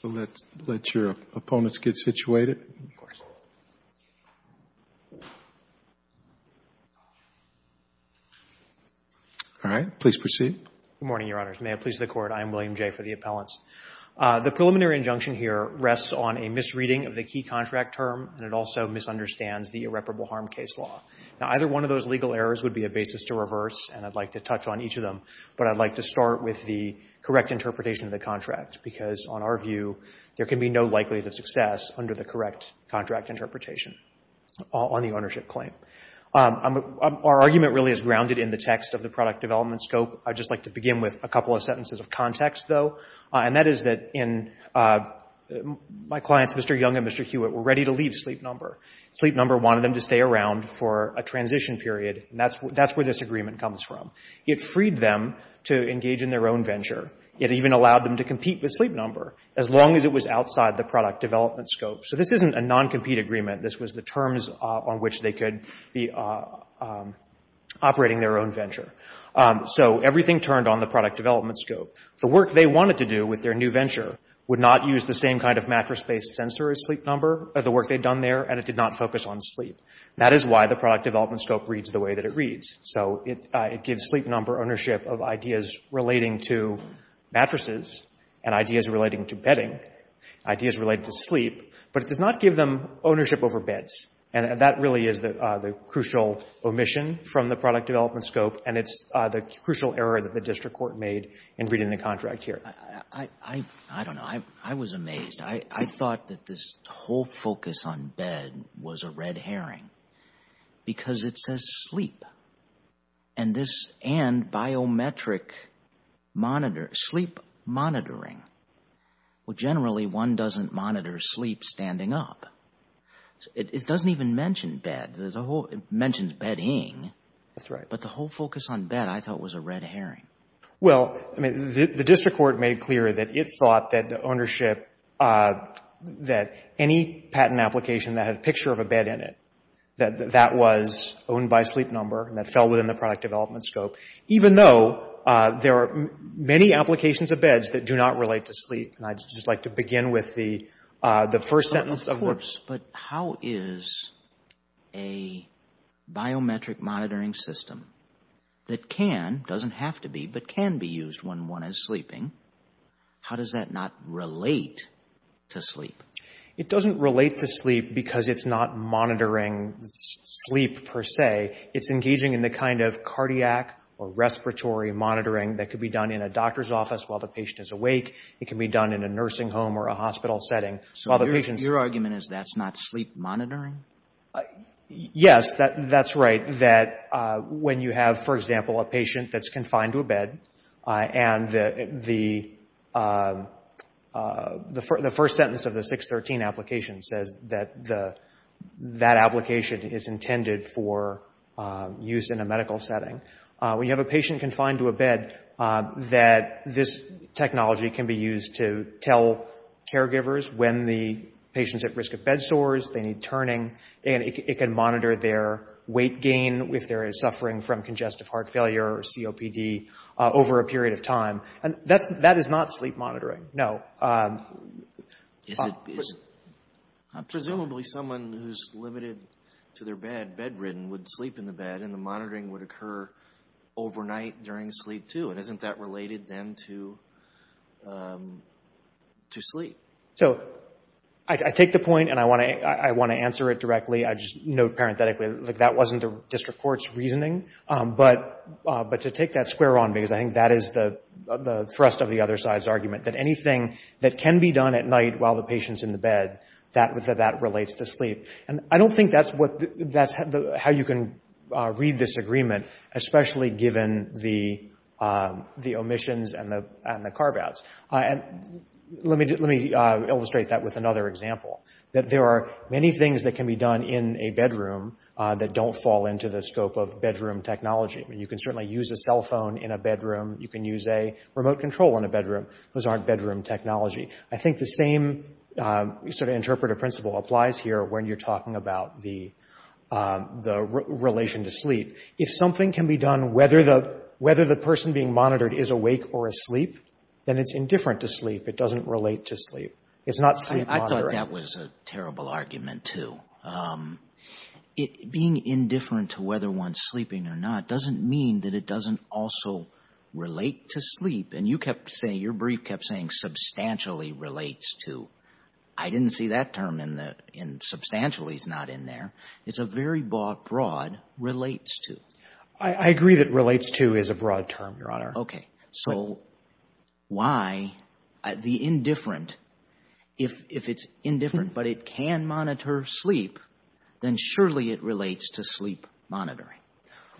Good morning, Your Honors. May it please the Court, I am William Jay for the Appellants. The preliminary injunction here rests on a misreading of the key contract term, and it also misunderstands the irreparable harm case law. Now, either one of those legal errors would be a basis to reverse, and I'd like to touch on each of them, but I'd like to be no likelihood of success under the correct contract interpretation on the ownership claim. Our argument really is grounded in the text of the product development scope. I'd just like to begin with a couple of sentences of context, though, and that is that my clients, Mr. Young and Mr. Hewitt, were ready to leave Sleep Number. Sleep Number wanted them to stay around for a transition period, and that's where this agreement comes from. It freed them to engage in their own venture. It even allowed them to compete with Sleep Number as long as it was outside the product development scope. So this isn't a non-compete agreement. This was the terms on which they could be operating their own venture. So everything turned on the product development scope. The work they wanted to do with their new venture would not use the same kind of mattress-based sensor as Sleep Number, or the work they'd done there, and it did not focus on sleep. That is why the product development scope reads the way that it reads. So it gives Sleep Number ownership of ideas relating to mattresses and ideas relating to bedding, ideas related to sleep, but it does not give them ownership over beds. That really is the crucial omission from the product development scope, and it's the crucial error that the district court made in reading the contract here. I don't know. I was amazed. I thought that this whole focus on bed was a red herring because it says sleep, and biometric sleep monitoring. Well, generally, one doesn't monitor sleep standing up. It doesn't even mention bed. It mentions bedding, but the whole focus on bed I thought was a red herring. Well, I mean, the district court made clear that it thought that any patent application that had a picture of a bed in it, that that was owned by Sleep Number, and that fell within the product development scope, even though there are many applications of beds that do not relate to sleep, and I'd just like to begin with the first sentence of the... Of course, but how is a biometric monitoring system that can, doesn't have to be, but can be used when one is sleeping, how does that not relate to sleep? It doesn't relate to sleep because it's not monitoring sleep per se. It's engaging in the kind of cardiac or respiratory monitoring that could be done in a doctor's office while the patient is awake. It can be done in a nursing home or a hospital setting while the patient's... Your argument is that's not sleep monitoring? Yes, that's right, that when you have, for example, a patient that's confined to a bed, and the first sentence of the 613 application says that that application is intended for use in a medical setting. When you have a patient confined to a bed, that this technology can be used to tell caregivers when the patient's at risk of bed sores, they need turning, and it can monitor their weight gain if there is suffering from congestive heart failure or COPD over a period of time. That is not sleep monitoring, no. Presumably, someone who's limited to their bed, bedridden, would sleep in the bed and the monitoring would occur overnight during sleep too. Isn't that related then to sleep? I take the point and I want to answer it directly. I just note parenthetically that that wasn't the district court's reasoning, but to take that square on, because I think that is the thrust of the other side's argument, that anything that can be done at night while the patient's in the bed, that relates to sleep. I don't think that's how you can read this agreement, especially given the omissions and the carve-outs. Let me illustrate that with another example. There are many things that can be done in a bedroom that don't fall into the scope of bedroom technology. You can certainly use a cell phone in a bedroom. You can use a remote control in a bedroom. Those aren't bedroom technology. I think the same sort of interpretive principle applies here when you're talking about the relation to sleep. If something can be done whether the person being monitored is awake or asleep, then it's indifferent to sleep. It doesn't relate to sleep. It's not sleep monitoring. I thought that was a terrible argument, too. Being indifferent to whether one's sleeping or not doesn't mean that it doesn't also relate to sleep. You kept saying, your brief kept saying substantially relates to. I didn't see that term in there. Substantially is not in there. It's a very broad relates to. Okay. So why the indifferent, if it's indifferent but it can monitor sleep, then surely it relates to sleep monitoring.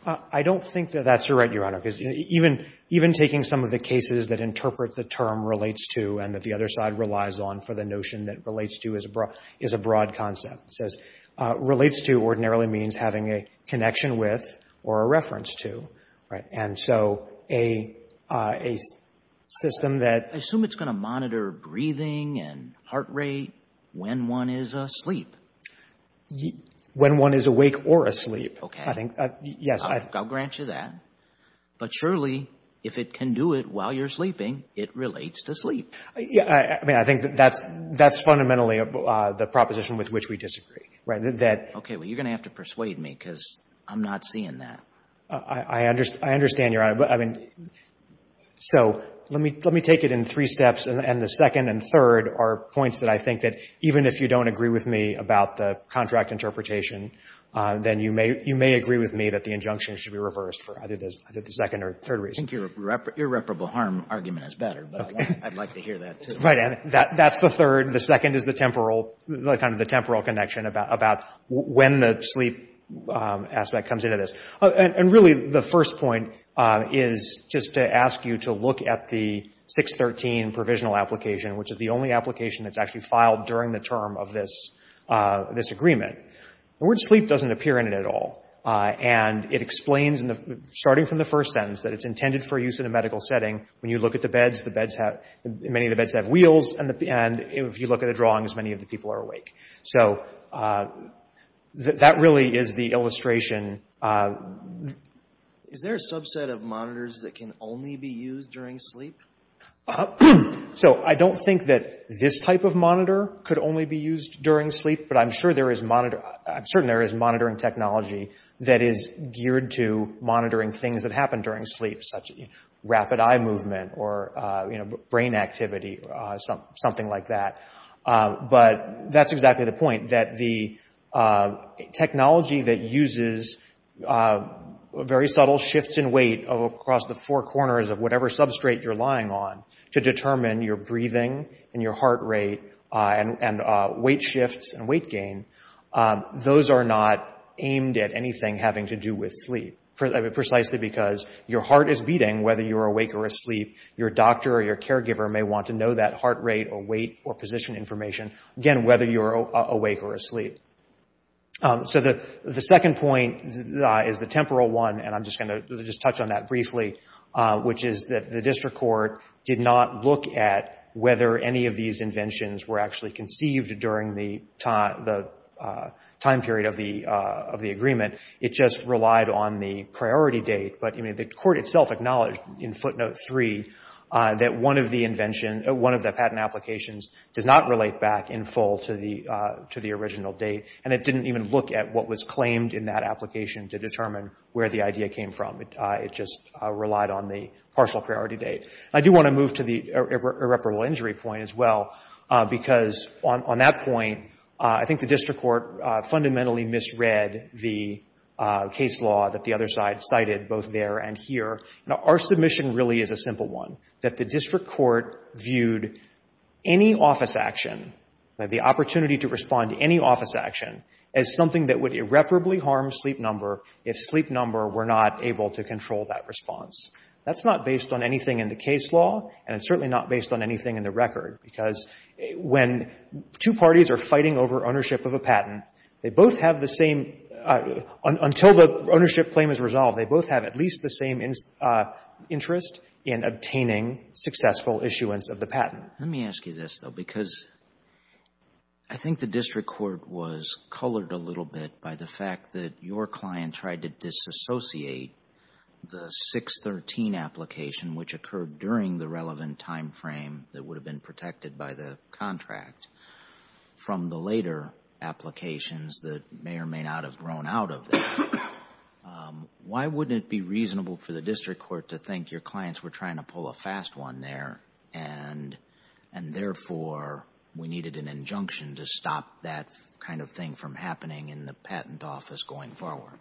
I don't think that that's right, Your Honor, because even taking some of the cases that interpret the term relates to and that the other side relies on for the notion that relates to is a broad concept. It says relates to ordinarily means having a connection with or a reference to, right? And so a system that I assume it's going to monitor breathing and heart rate when one is asleep. When one is awake or asleep, I think, yes. Okay. I'll grant you that. But surely if it can do it while you're sleeping, it relates to sleep. I mean, I think that's fundamentally the proposition with which we disagree, right? Okay. Well, you're going to have to persuade me because I'm not seeing that. I understand, Your Honor. So let me take it in three steps. And the second and third are points that I think that even if you don't agree with me about the contract interpretation, then you may agree with me that the injunction should be reversed for either the second or third reason. I think your irreparable harm argument is better, but I'd like to hear that, too. Right. And that's the third. The second is the temporal, kind of the temporal connection about when the sleep aspect comes into this. And really the first point is just to ask you to look at the 613 provisional application, which is the only application that's actually filed during the term of this agreement. The word sleep doesn't appear in it at all. And it explains, starting from the first sentence, that it's intended for use in a medical setting. When you look at the beds, the beds have — many of the beds have wheels, and if you look at the drawings, many of the people are awake. So that really is the illustration. Is there a subset of monitors that can only be used during sleep? So I don't think that this type of monitor could only be used during sleep, but I'm sure there is — I'm certain there is monitoring technology that is geared to monitoring things that happen during sleep, such as rapid eye movement or, you know, brain activity, something like that. But that's exactly the point, that the technology that uses very subtle shifts in weight across the four corners of whatever substrate you're lying on to determine your breathing and your heart rate and weight shifts and weight gain, those are not aimed at anything having to do with sleep, precisely because your heart is beating whether you're awake or asleep. Your doctor or your caregiver may want to know that heart rate or weight or position information, again, whether you're awake or asleep. So the second point is the temporal one, and I'm just going to touch on that briefly, which is that the district court did not look at whether any of these inventions were actually part of the time period of the agreement. It just relied on the priority date, but the court itself acknowledged in footnote three that one of the patent applications does not relate back in full to the original date, and it didn't even look at what was claimed in that application to determine where the idea came from. It just relied on the partial priority date. I do want to move to the irreparable injury point as well, because on that point, I think the district court fundamentally misread the case law that the other side cited, both there and here. Now, our submission really is a simple one, that the district court viewed any office action, the opportunity to respond to any office action, as something that would irreparably harm sleep number if sleep number were not able to control that response. That's not based on anything in the case law, and it's certainly not based on anything in the record, because when two parties are fighting over ownership of a patent, they both have the same — until the ownership claim is resolved, they both have at least the same interest in obtaining successful issuance of the patent. Let me ask you this, though, because I think the district court was colored a little bit by the fact that your client tried to disassociate the 613 application, which occurred during the relevant timeframe that would have been protected by the contract, from the later applications that may or may not have grown out of that. Why wouldn't it be reasonable for the district court to think your clients were trying to pull a fast one there, and therefore, we needed an injunction to stop that kind of thing from happening in the patent office going forward?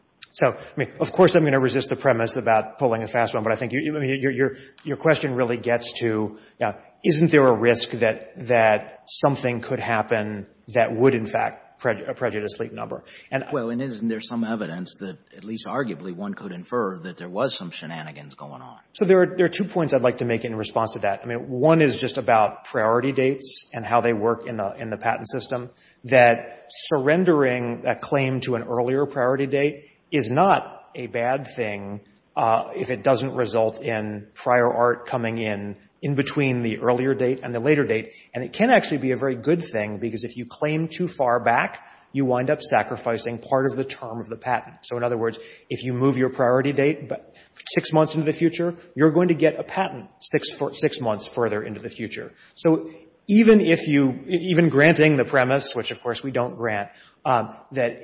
Of course, I'm going to resist the premise about pulling a fast one, but I think your question really gets to, you know, isn't there a risk that something could happen that would, in fact, prejudice the number? Well, and isn't there some evidence that, at least arguably, one could infer that there was some shenanigans going on? So there are two points I'd like to make in response to that. I mean, one is just about priority dates and how they work in the patent system, that surrendering a claim to an earlier priority date is not a bad thing if it doesn't result in prior art coming in in between the earlier date and the later date. And it can actually be a very good thing, because if you claim too far back, you wind up sacrificing part of the term of the patent. So in other words, if you move your priority date six months into the future, you're going to get a patent six months further into the future. So even if you — even granting the premise, which of course we don't grant, that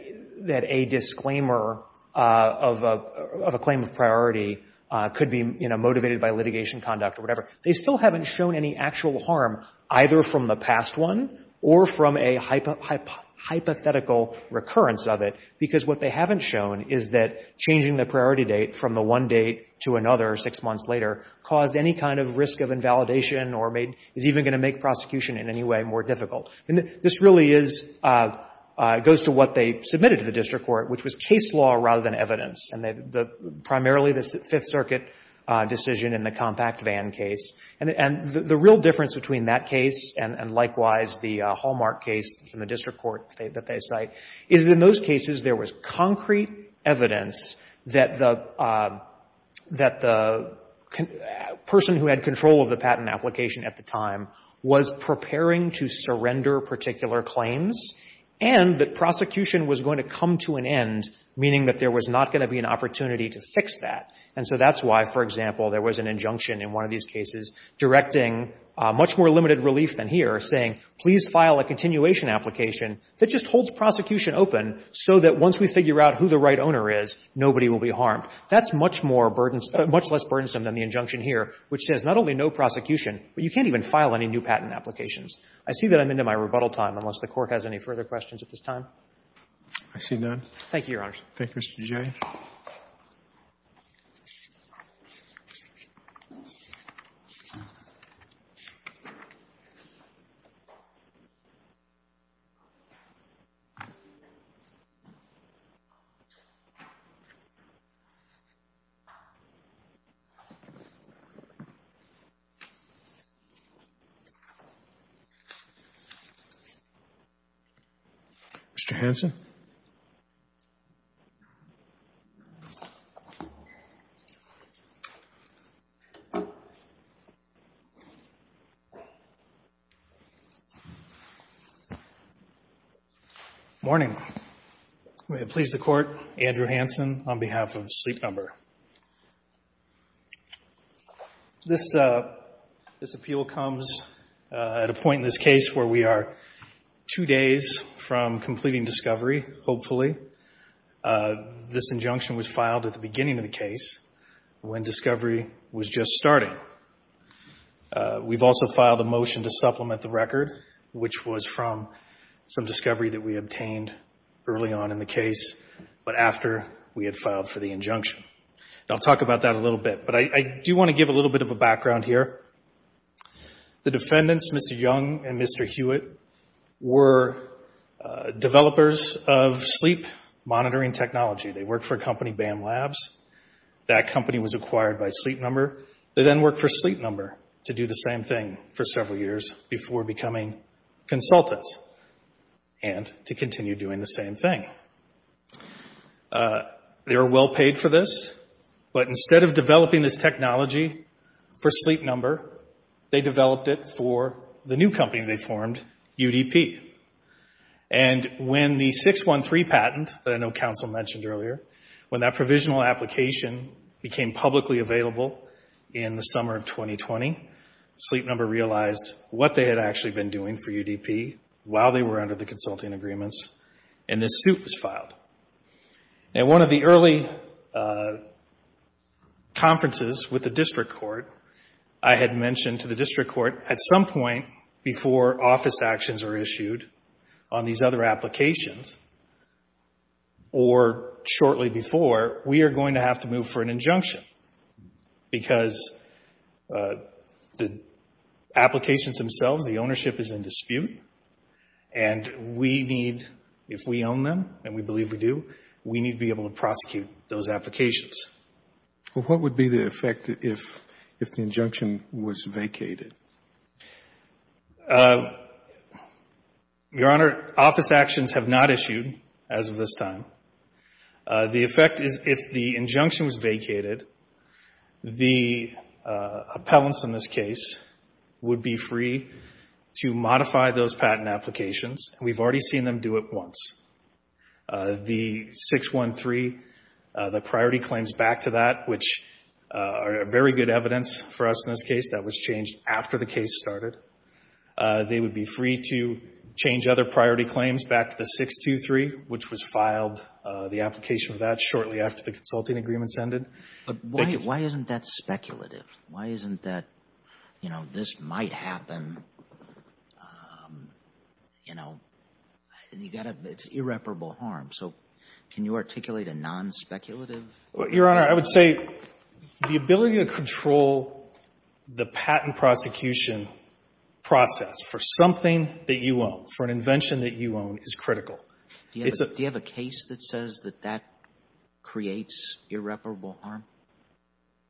a disclaimer of a claim of priority could be, you know, motivated by litigation conduct or whatever, they still haven't shown any actual harm either from the past one or from a hypothetical recurrence of it, because what they haven't shown is that changing the priority date from the one date to another six months later caused any kind of risk of invalidation or made — is even going to make prosecution in any way more difficult. And this really is — goes to what they submitted to the district court, which was case law rather than evidence. And they — primarily the Fifth Circuit decision in the compact van case. And the real difference between that case and likewise the Hallmark case from the district court that they cite is that in those cases, there was concrete evidence that the — that the person who had control of the patent application at the time was preparing to surrender particular claims and that prosecution was going to come to an end, meaning that there was not going to be an opportunity to fix that. And so that's why, for example, there was an injunction in one of these cases directing much more limited relief than here, saying, please file a continuation application that just holds prosecution open so that once we figure out who the right owner is, nobody will be harmed. That's much more burdensome — much less burdensome than the injunction here, which says not only no prosecution, but you can't even file any new patent applications. I see that I'm into my rebuttal time, unless the Court has any further questions at this time. Mr. Hanson? Morning. May it please the Court, Andrew Hanson on behalf of Sleep Number. This — this appeal comes at a point in this case where we are two days from completing discovery, hopefully. This injunction was filed at the beginning of the case, when discovery was just starting. We've also filed a motion to supplement the record, which was from some I'll talk about that a little bit, but I do want to give a little bit of a background here. The defendants, Mr. Young and Mr. Hewitt, were developers of sleep monitoring technology. They worked for a company, BAM Labs. That company was acquired by Sleep Number. They then worked for Sleep Number to do the same thing for several years before becoming consultants and to continue doing the same thing. They were well paid for this, but instead of developing this technology for Sleep Number, they developed it for the new company they formed, UDP. And when the 613 patent, that I know counsel mentioned earlier, when that provisional application became publicly available in the summer of 2020, Sleep Number realized what they had actually been doing for UDP while they were under the consulting agreements, and this suit was filed. One of the early conferences with the district court, I had mentioned to the district court at some point before office actions are issued on these other applications or shortly before, we are going to have to move for an injunction because the applications themselves, the ownership is in dispute, and we need, if we own them, and we believe we do, we need to be able to prosecute those applications. Well, what would be the effect if the injunction was vacated? Your Honor, office actions have not issued as of this time. The effect is if the injunction was vacated, the appellants in this case would be free to modify those patent applications. We've already seen them do it once. The 613, the priority claims back to that, which are very good evidence for us in this case, that was changed after the case started. They would be free to change other priority claims back to the 623, which was filed, the application of that shortly after the consulting agreements ended. But why isn't that speculative? Why isn't that, you know, this might happen, you know, you got to, it's irreparable harm. So can you articulate a non-speculative? Your Honor, I would say the ability to control the patent prosecution process for something that you own, for an invention that you own, is critical. Do you have a case that says that that creates irreparable harm?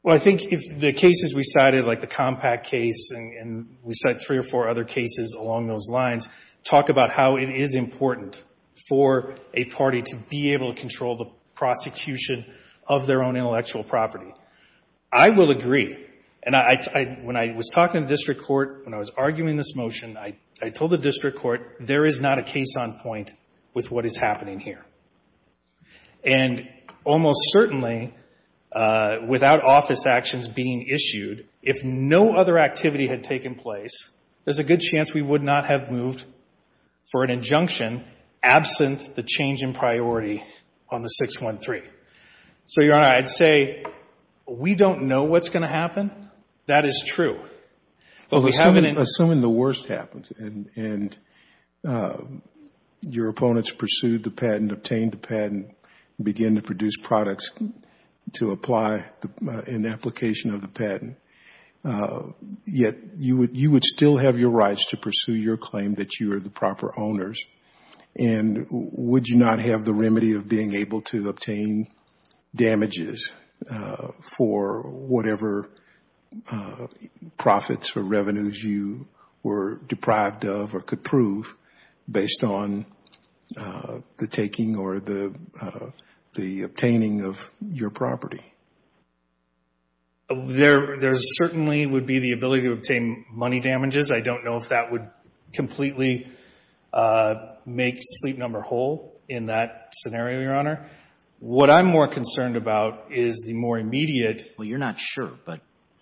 Well, I think if the cases we cited, like the Compact case, and we cite three or four other cases along those lines, talk about how it is important for a party to be able to control the prosecution of their own intellectual property, I will agree. And when I was talking to the district court, when I was arguing this motion, I told the district court, there is not a case on point with what is happening here. And almost certainly, without office actions being issued, if no other activity had taken place, there's a good chance we would not have moved for an injunction absent the change in priority on the 613. So Your Honor, I'd say we don't know what's going to happen. That is true. Assuming the worst happens and your opponents pursued the patent, obtained the patent, begin to produce products to apply an application of the patent, yet you would still have your rights to pursue your claim that you are the proper owners, and would you not have the remedy of being able to obtain damages for whatever profits or revenues you were deprived of or could prove based on the taking or the obtaining of your property? There certainly would be the ability to obtain money damages. I don't know if that would completely make Sleep Number whole in that scenario, Your Honor. What I'm more concerned about is the more immediate. Well, you're not sure, but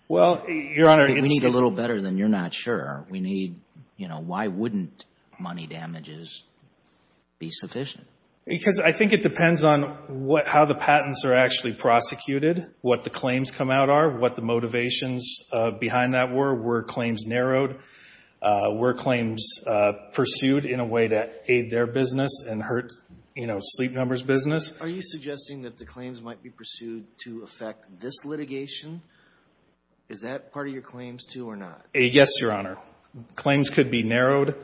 we need a little better than you're not sure. Why wouldn't money damages be sufficient? Because I think it depends on how the patents are actually prosecuted, what the claims come out are, what the motivations behind that were, were claims narrowed, were claims pursued in a way to aid their business and hurt Sleep Number's business. Are you suggesting that the claims might be pursued to affect this litigation? Is that part of your claims too or not? Yes, Your Honor. Claims could be narrowed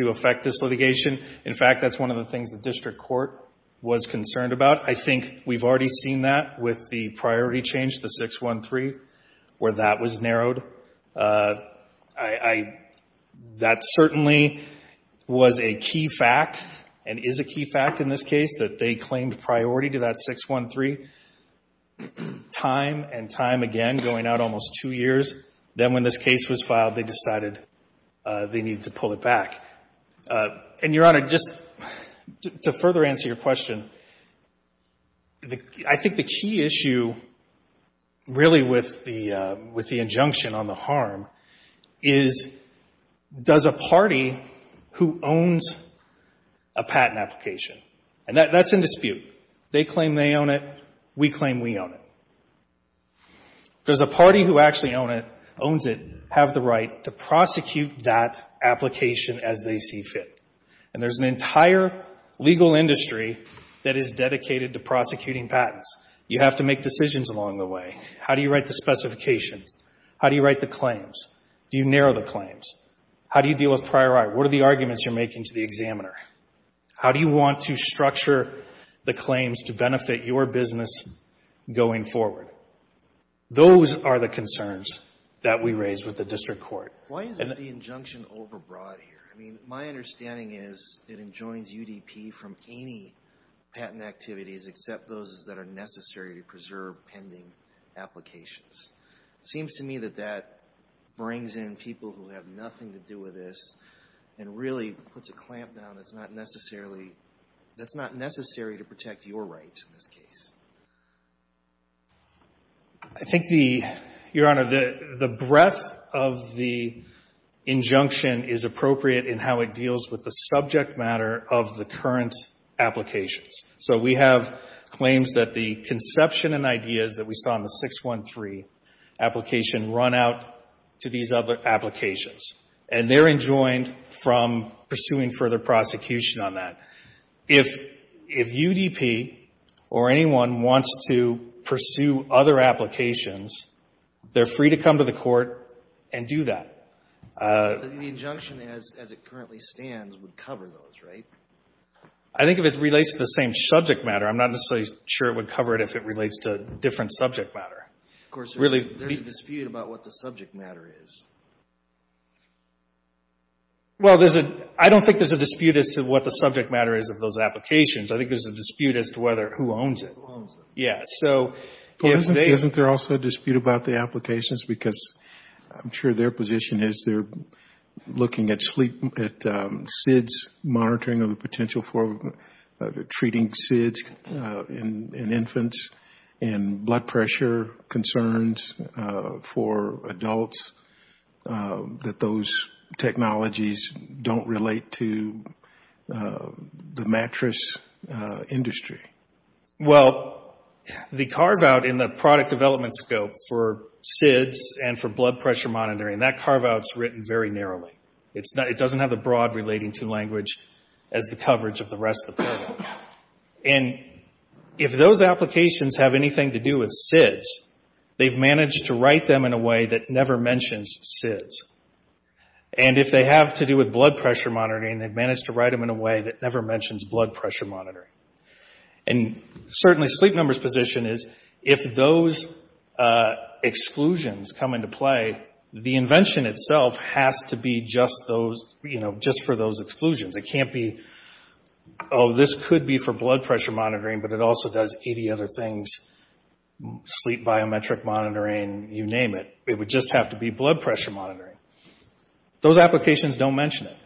to affect this litigation. In fact, that's one of the things the district court was concerned about. I think we've already seen that with the priority change, the 613, where that was narrowed. That certainly was a key fact and is a key fact in this case that they claimed priority to that 613 time and time again going out almost two years. Then when this case was filed, they decided they needed to pull it back. And, Your Honor, just to further answer your question, I think the key issue really with the injunction on the harm is does a party who owns a patent application and that's in dispute. They claim they own it. We claim we own it. Does a party who actually owns it have the right to prosecute that application as they see fit? There's an entire legal industry that is dedicated to prosecuting patents. You have to make decisions along the way. How do you write the specifications? How do you write the claims? Do you narrow the claims? How do you deal with prior art? What are the arguments you're making to the examiner? How do you want to structure the claims to benefit your business going forward? Those are the concerns that we raise with the district court. Why is the injunction overbroad here? I mean, my understanding is it enjoins UDP from any patent activities except those that are necessary to preserve pending applications. It seems to me that that brings in people who have nothing to do with this and really puts a clamp down that's not necessarily to protect your rights in this case. I think the, Your Honor, the breadth of the injunction is appropriate in how it deals with the subject matter of the current applications. So we have claims that the conception and ideas that we saw in the 613 application run out to these other applications and they're enjoined from pursuing further prosecution on that. If UDP or anyone wants to pursue other applications, they're free to come to the court and do that. The injunction as it currently stands would cover those, right? I think if it relates to the same subject matter, I'm not necessarily sure it would cover it if it relates to different subject matter. Of course, there's a dispute about what the subject matter is. Well, there's a, I don't think there's a dispute as to what the subject matter is of those applications. I think there's a dispute as to whether, who owns it. Who owns them. Yes. Isn't there also a dispute about the applications because I'm sure their position is they're looking at SIDS monitoring of the potential for treating SIDS in infants and blood pressure concerns for adults that those technologies don't relate to the mattress industry? Well, the carve out in the product development scope for SIDS and for blood pressure monitoring, that carve out is written very narrowly. It doesn't have the broad relating to language as the coverage of the rest of the program. If those applications have anything to do with SIDS, they've managed to write them in a way that never mentions SIDS. If they have to do with blood pressure monitoring, they've And certainly sleep number's position is if those exclusions come into play, the invention itself has to be just for those exclusions. It can't be, oh, this could be for blood pressure monitoring, but it also does 80 other things, sleep biometric monitoring, you name it. It would just have to be blood pressure monitoring. Those applications don't mention it.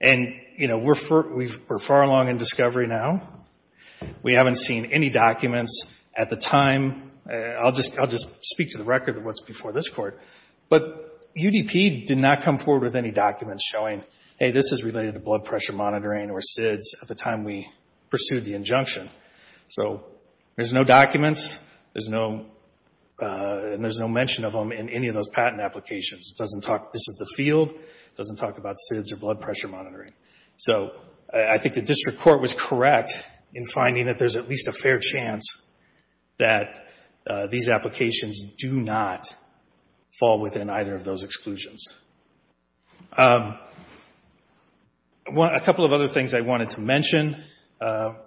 And, you know, we're far along in discovery now. We haven't seen any documents at the time. I'll just speak to the record of what's before this court. But UDP did not come forward with any documents showing, hey, this is related to blood pressure monitoring or SIDS at the time we pursued the injunction. So there's no documents. There's no mention of them in any of those patent applications. It doesn't talk, this is the field. It doesn't talk about SIDS or blood pressure monitoring. So I think the district court was correct in finding that there's at least a fair chance that these applications do not fall within either of those exclusions. A couple of other things I wanted to mention,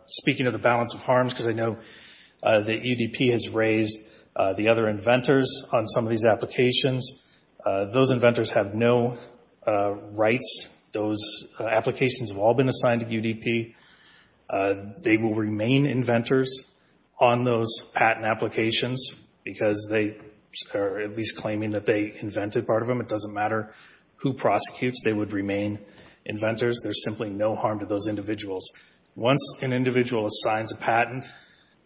speaking of the balance of harms, because I know that UDP has raised the other inventors on some of these applications. Those inventors have no rights. Those applications have all been assigned to UDP. They will remain inventors on those patent applications because they are at least claiming that they invented part of them. It doesn't matter who prosecutes. They would remain inventors. There's simply no harm to those individuals. Once an individual assigns a patent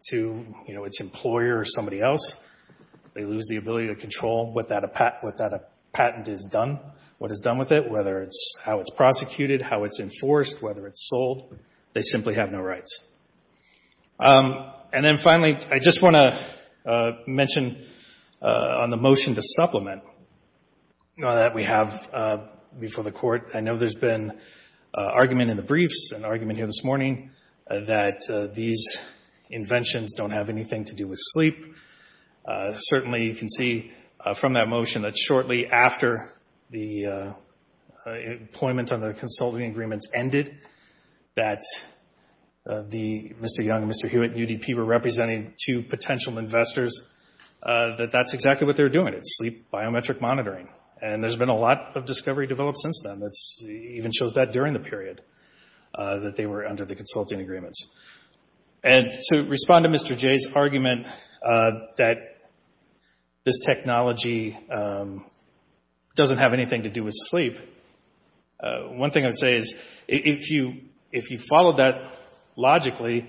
to its employer or somebody else, they lose the ability to control what that patent is done, what is done with it, whether it's how it's prosecuted, how it's enforced, whether it's sold. They simply have no rights. And then finally, I just want to mention on the motion to supplement that we have before the court. I know there's been argument in the briefs and argument here this morning that these inventions don't have anything to do with sleep. Certainly, you can see from that motion that shortly after the employment on the consulting agreements ended, that Mr. Young and Mr. Hewitt and UDP were representing two potential investors, that that's exactly what they were doing. It's sleep biometric monitoring. And there's been a lot of discovery developed since then that even shows that during the period that they were under the consulting agreements. And to respond to Mr. Jay's argument that this technology doesn't have anything to do with sleep, one thing I would say is if you followed that logically,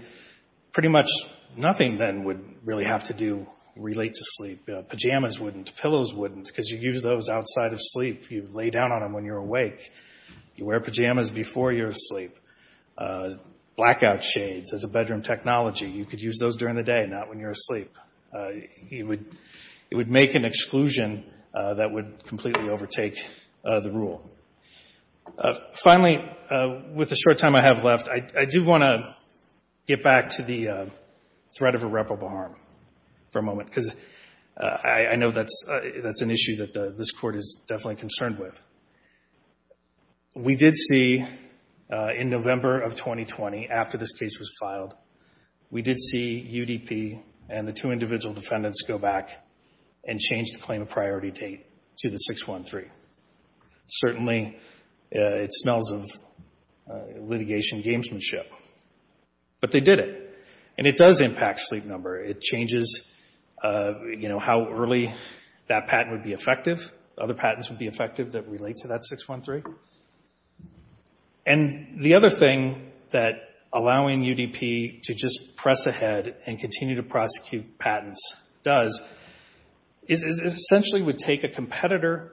pretty much nothing then would really have to do relate to sleep. Pajamas wouldn't. Pillows wouldn't. Because you use those outside of sleep. You lay down on them when you're awake. You wear pajamas before you're asleep. Blackout shades as a bedroom technology, you could use those during the day, not when you're asleep. It would make an exclusion that would completely overtake the rule. Finally, with the short time I have left, I do want to get back to the threat of irreparable harm for a moment. Because I know that's an issue that this court is definitely concerned with. We did see in November of 2020, after this case was filed, we did see UDP and the two individual defendants go back and change the claim of priority to the 613. Certainly, it smells of litigation gamesmanship. But they did it. And it does impact sleep number. It changes how early that patent would be effective. Other patents would be effective that relate to that 613. And the other thing that allowing UDP to just press ahead and continue to prosecute patents does is essentially would take a competitor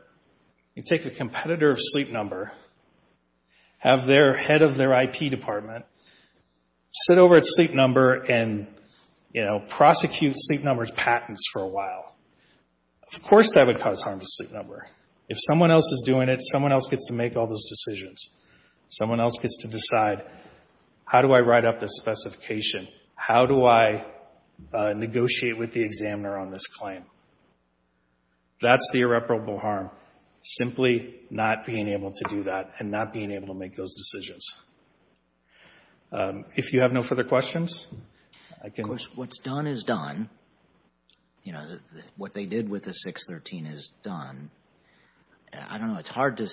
of sleep number, have their head of their IP department sit over at sleep number and prosecute sleep number's patents for a while. Of course, that would cause harm to sleep number. If someone else is doing it, someone else gets to make all those decisions. Someone else gets to decide, how do I write up this examiner on this claim? That's the irreparable harm, simply not being able to do that and not being able to make those decisions. If you have no further questions, I can... Of course, what's done is done. You know, what they did with the 613 is done. I don't know. It's hard to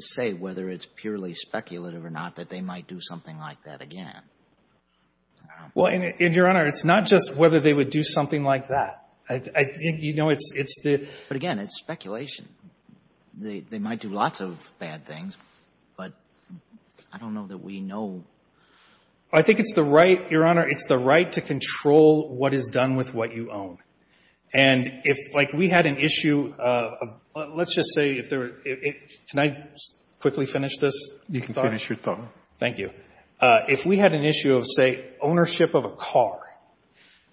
say whether it's purely speculative or not that they might do something like that again. Well, and, Your Honor, it's not just whether they would do something like that. I think you know it's the... But, again, it's speculation. They might do lots of bad things, but I don't know that we know... I think it's the right, Your Honor, it's the right to control what is done with what you own. And if, like, we had an issue of, let's just say, if there were... Can I quickly finish this thought? If we had an issue of, say, ownership of a car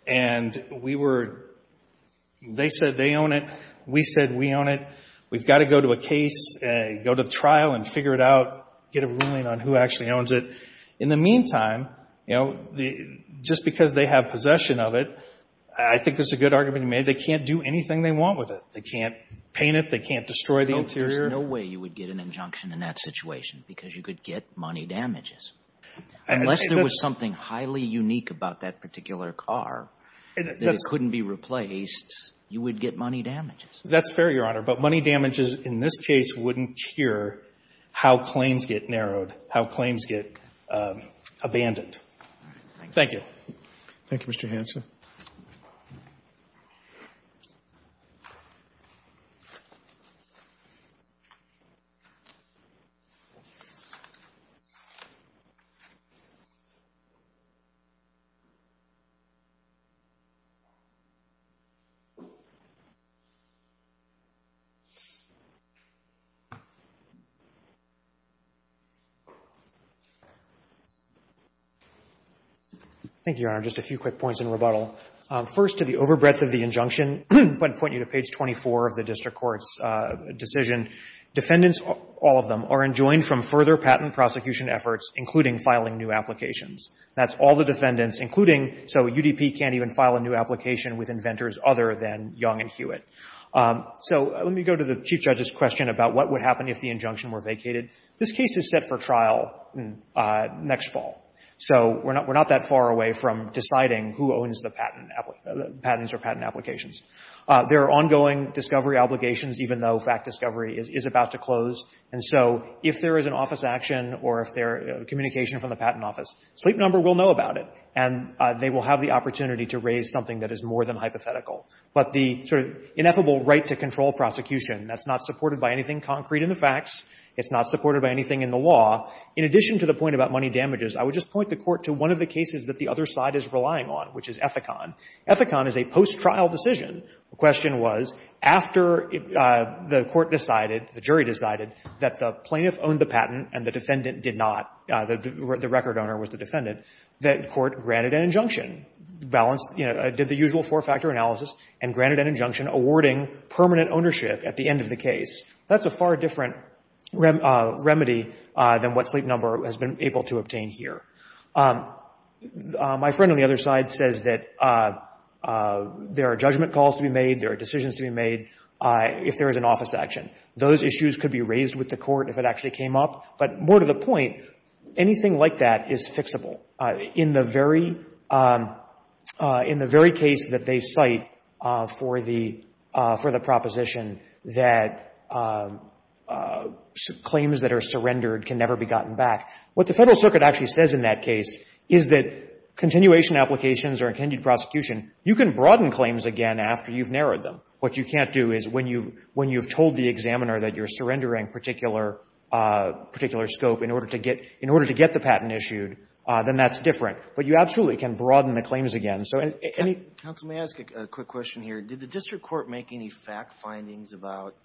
and we were... They said they own it. We said we own it. We've got to go to a case, go to trial and figure it out, get a ruling on who actually owns it. In the meantime, you know, just because they have possession of it, I think that's a good argument to make. They can't do anything they want with it. They can't paint it. They can't destroy the interior. There's no way you would get an injunction in that situation because you could get money damages. Unless there was something highly unique about that particular car that it couldn't be replaced, you would get money damages. That's fair, Your Honor. But money damages in this case wouldn't cure how claims get narrowed, how claims get abandoned. Thank you. Thank you, Mr. Hanson. Thank you, Your Honor. Just a few quick points in rebuttal. First, to the overbreadth of the injunction, I'd point you to page 24 of the district court's decision. Defendants, all of them, are enjoined from further patent prosecution efforts, including filing new applications. That's all the defendants, including, so UDP can't even file a new application with inventors other than Young and Hewitt. So let me go to the Chief Judge's question about what would happen if the injunction were vacated. This case is set for trial next fall. So we're not that far away from deciding who owns the patent, patents or patent applications. There are ongoing discovery obligations, even though fact discovery is about to close. And so if there is an office action or if there is communication from the patent office, Sleep Number will know about it, and they will have the opportunity to raise something that is more than hypothetical. But the sort of ineffable right to control prosecution, that's not supported by anything concrete in the facts. It's not supported by anything in the law. In addition to the point about money damages, I would just point the Court to one of the cases that the other side is relying on, which is Ethicon. Ethicon is a post-trial decision. The question was after the Court decided, the jury decided, that the plaintiff owned the patent and the defendant did not, the record owner was the defendant, that the Court granted an injunction, balanced, did the usual four-factor analysis and granted an injunction awarding permanent ownership at the end of the case. That's a far different remedy than what Sleep Number has been able to obtain here. My friend on the other side says that there are judgment calls to be made, there are decisions to be made if there is an office action. Those issues could be raised with the Court if it actually came up. But more to the point, anything like that is fixable. In the very, in the very case that they cite for the, for the proposition that claims that are surrendered can never be gotten back, what the Federal Circuit actually says in that case is that continuation applications or a continued prosecution, you can broaden claims again after you've narrowed them. What you can't do is when you've, when you've told the examiner that you're surrendering particular, particular scope in order to get, in order to get the patent issued, then that's different. But you absolutely can broaden the claims again. So, and any – Counsel, may I ask a quick question here? Did the District Court make any fact findings about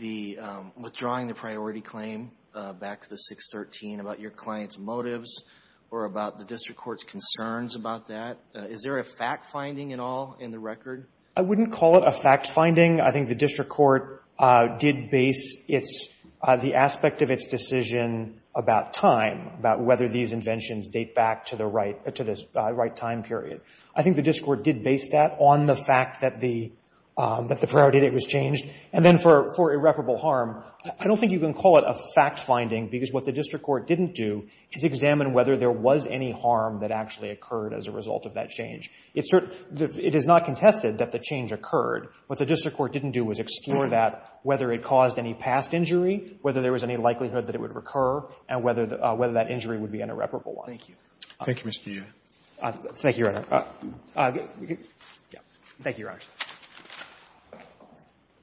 the, withdrawing the priority claim back to the 613, about your client's motives or about the District Court's concerns about that? Is there a fact finding at all in the record? I wouldn't call it a fact finding. I think the District Court did base its, the aspect of its decision about time, about whether these inventions date back to the right, to the right time period. I think the District Court did base that on the fact that the, that the priority date was changed. And then for, for irreparable harm, I don't think you can call it a fact finding, because what the District Court didn't do is examine whether there was any harm that actually occurred as a result of that change. It's not contested that the change occurred. What the District Court didn't do was explore that, whether it caused any past injury, whether there was any likelihood that it would recur, and whether that injury would be an irreparable one. Thank you. Thank you, Mr. Yeh. Thank you, Your Honor. Thank you, Your Honor. Thank you.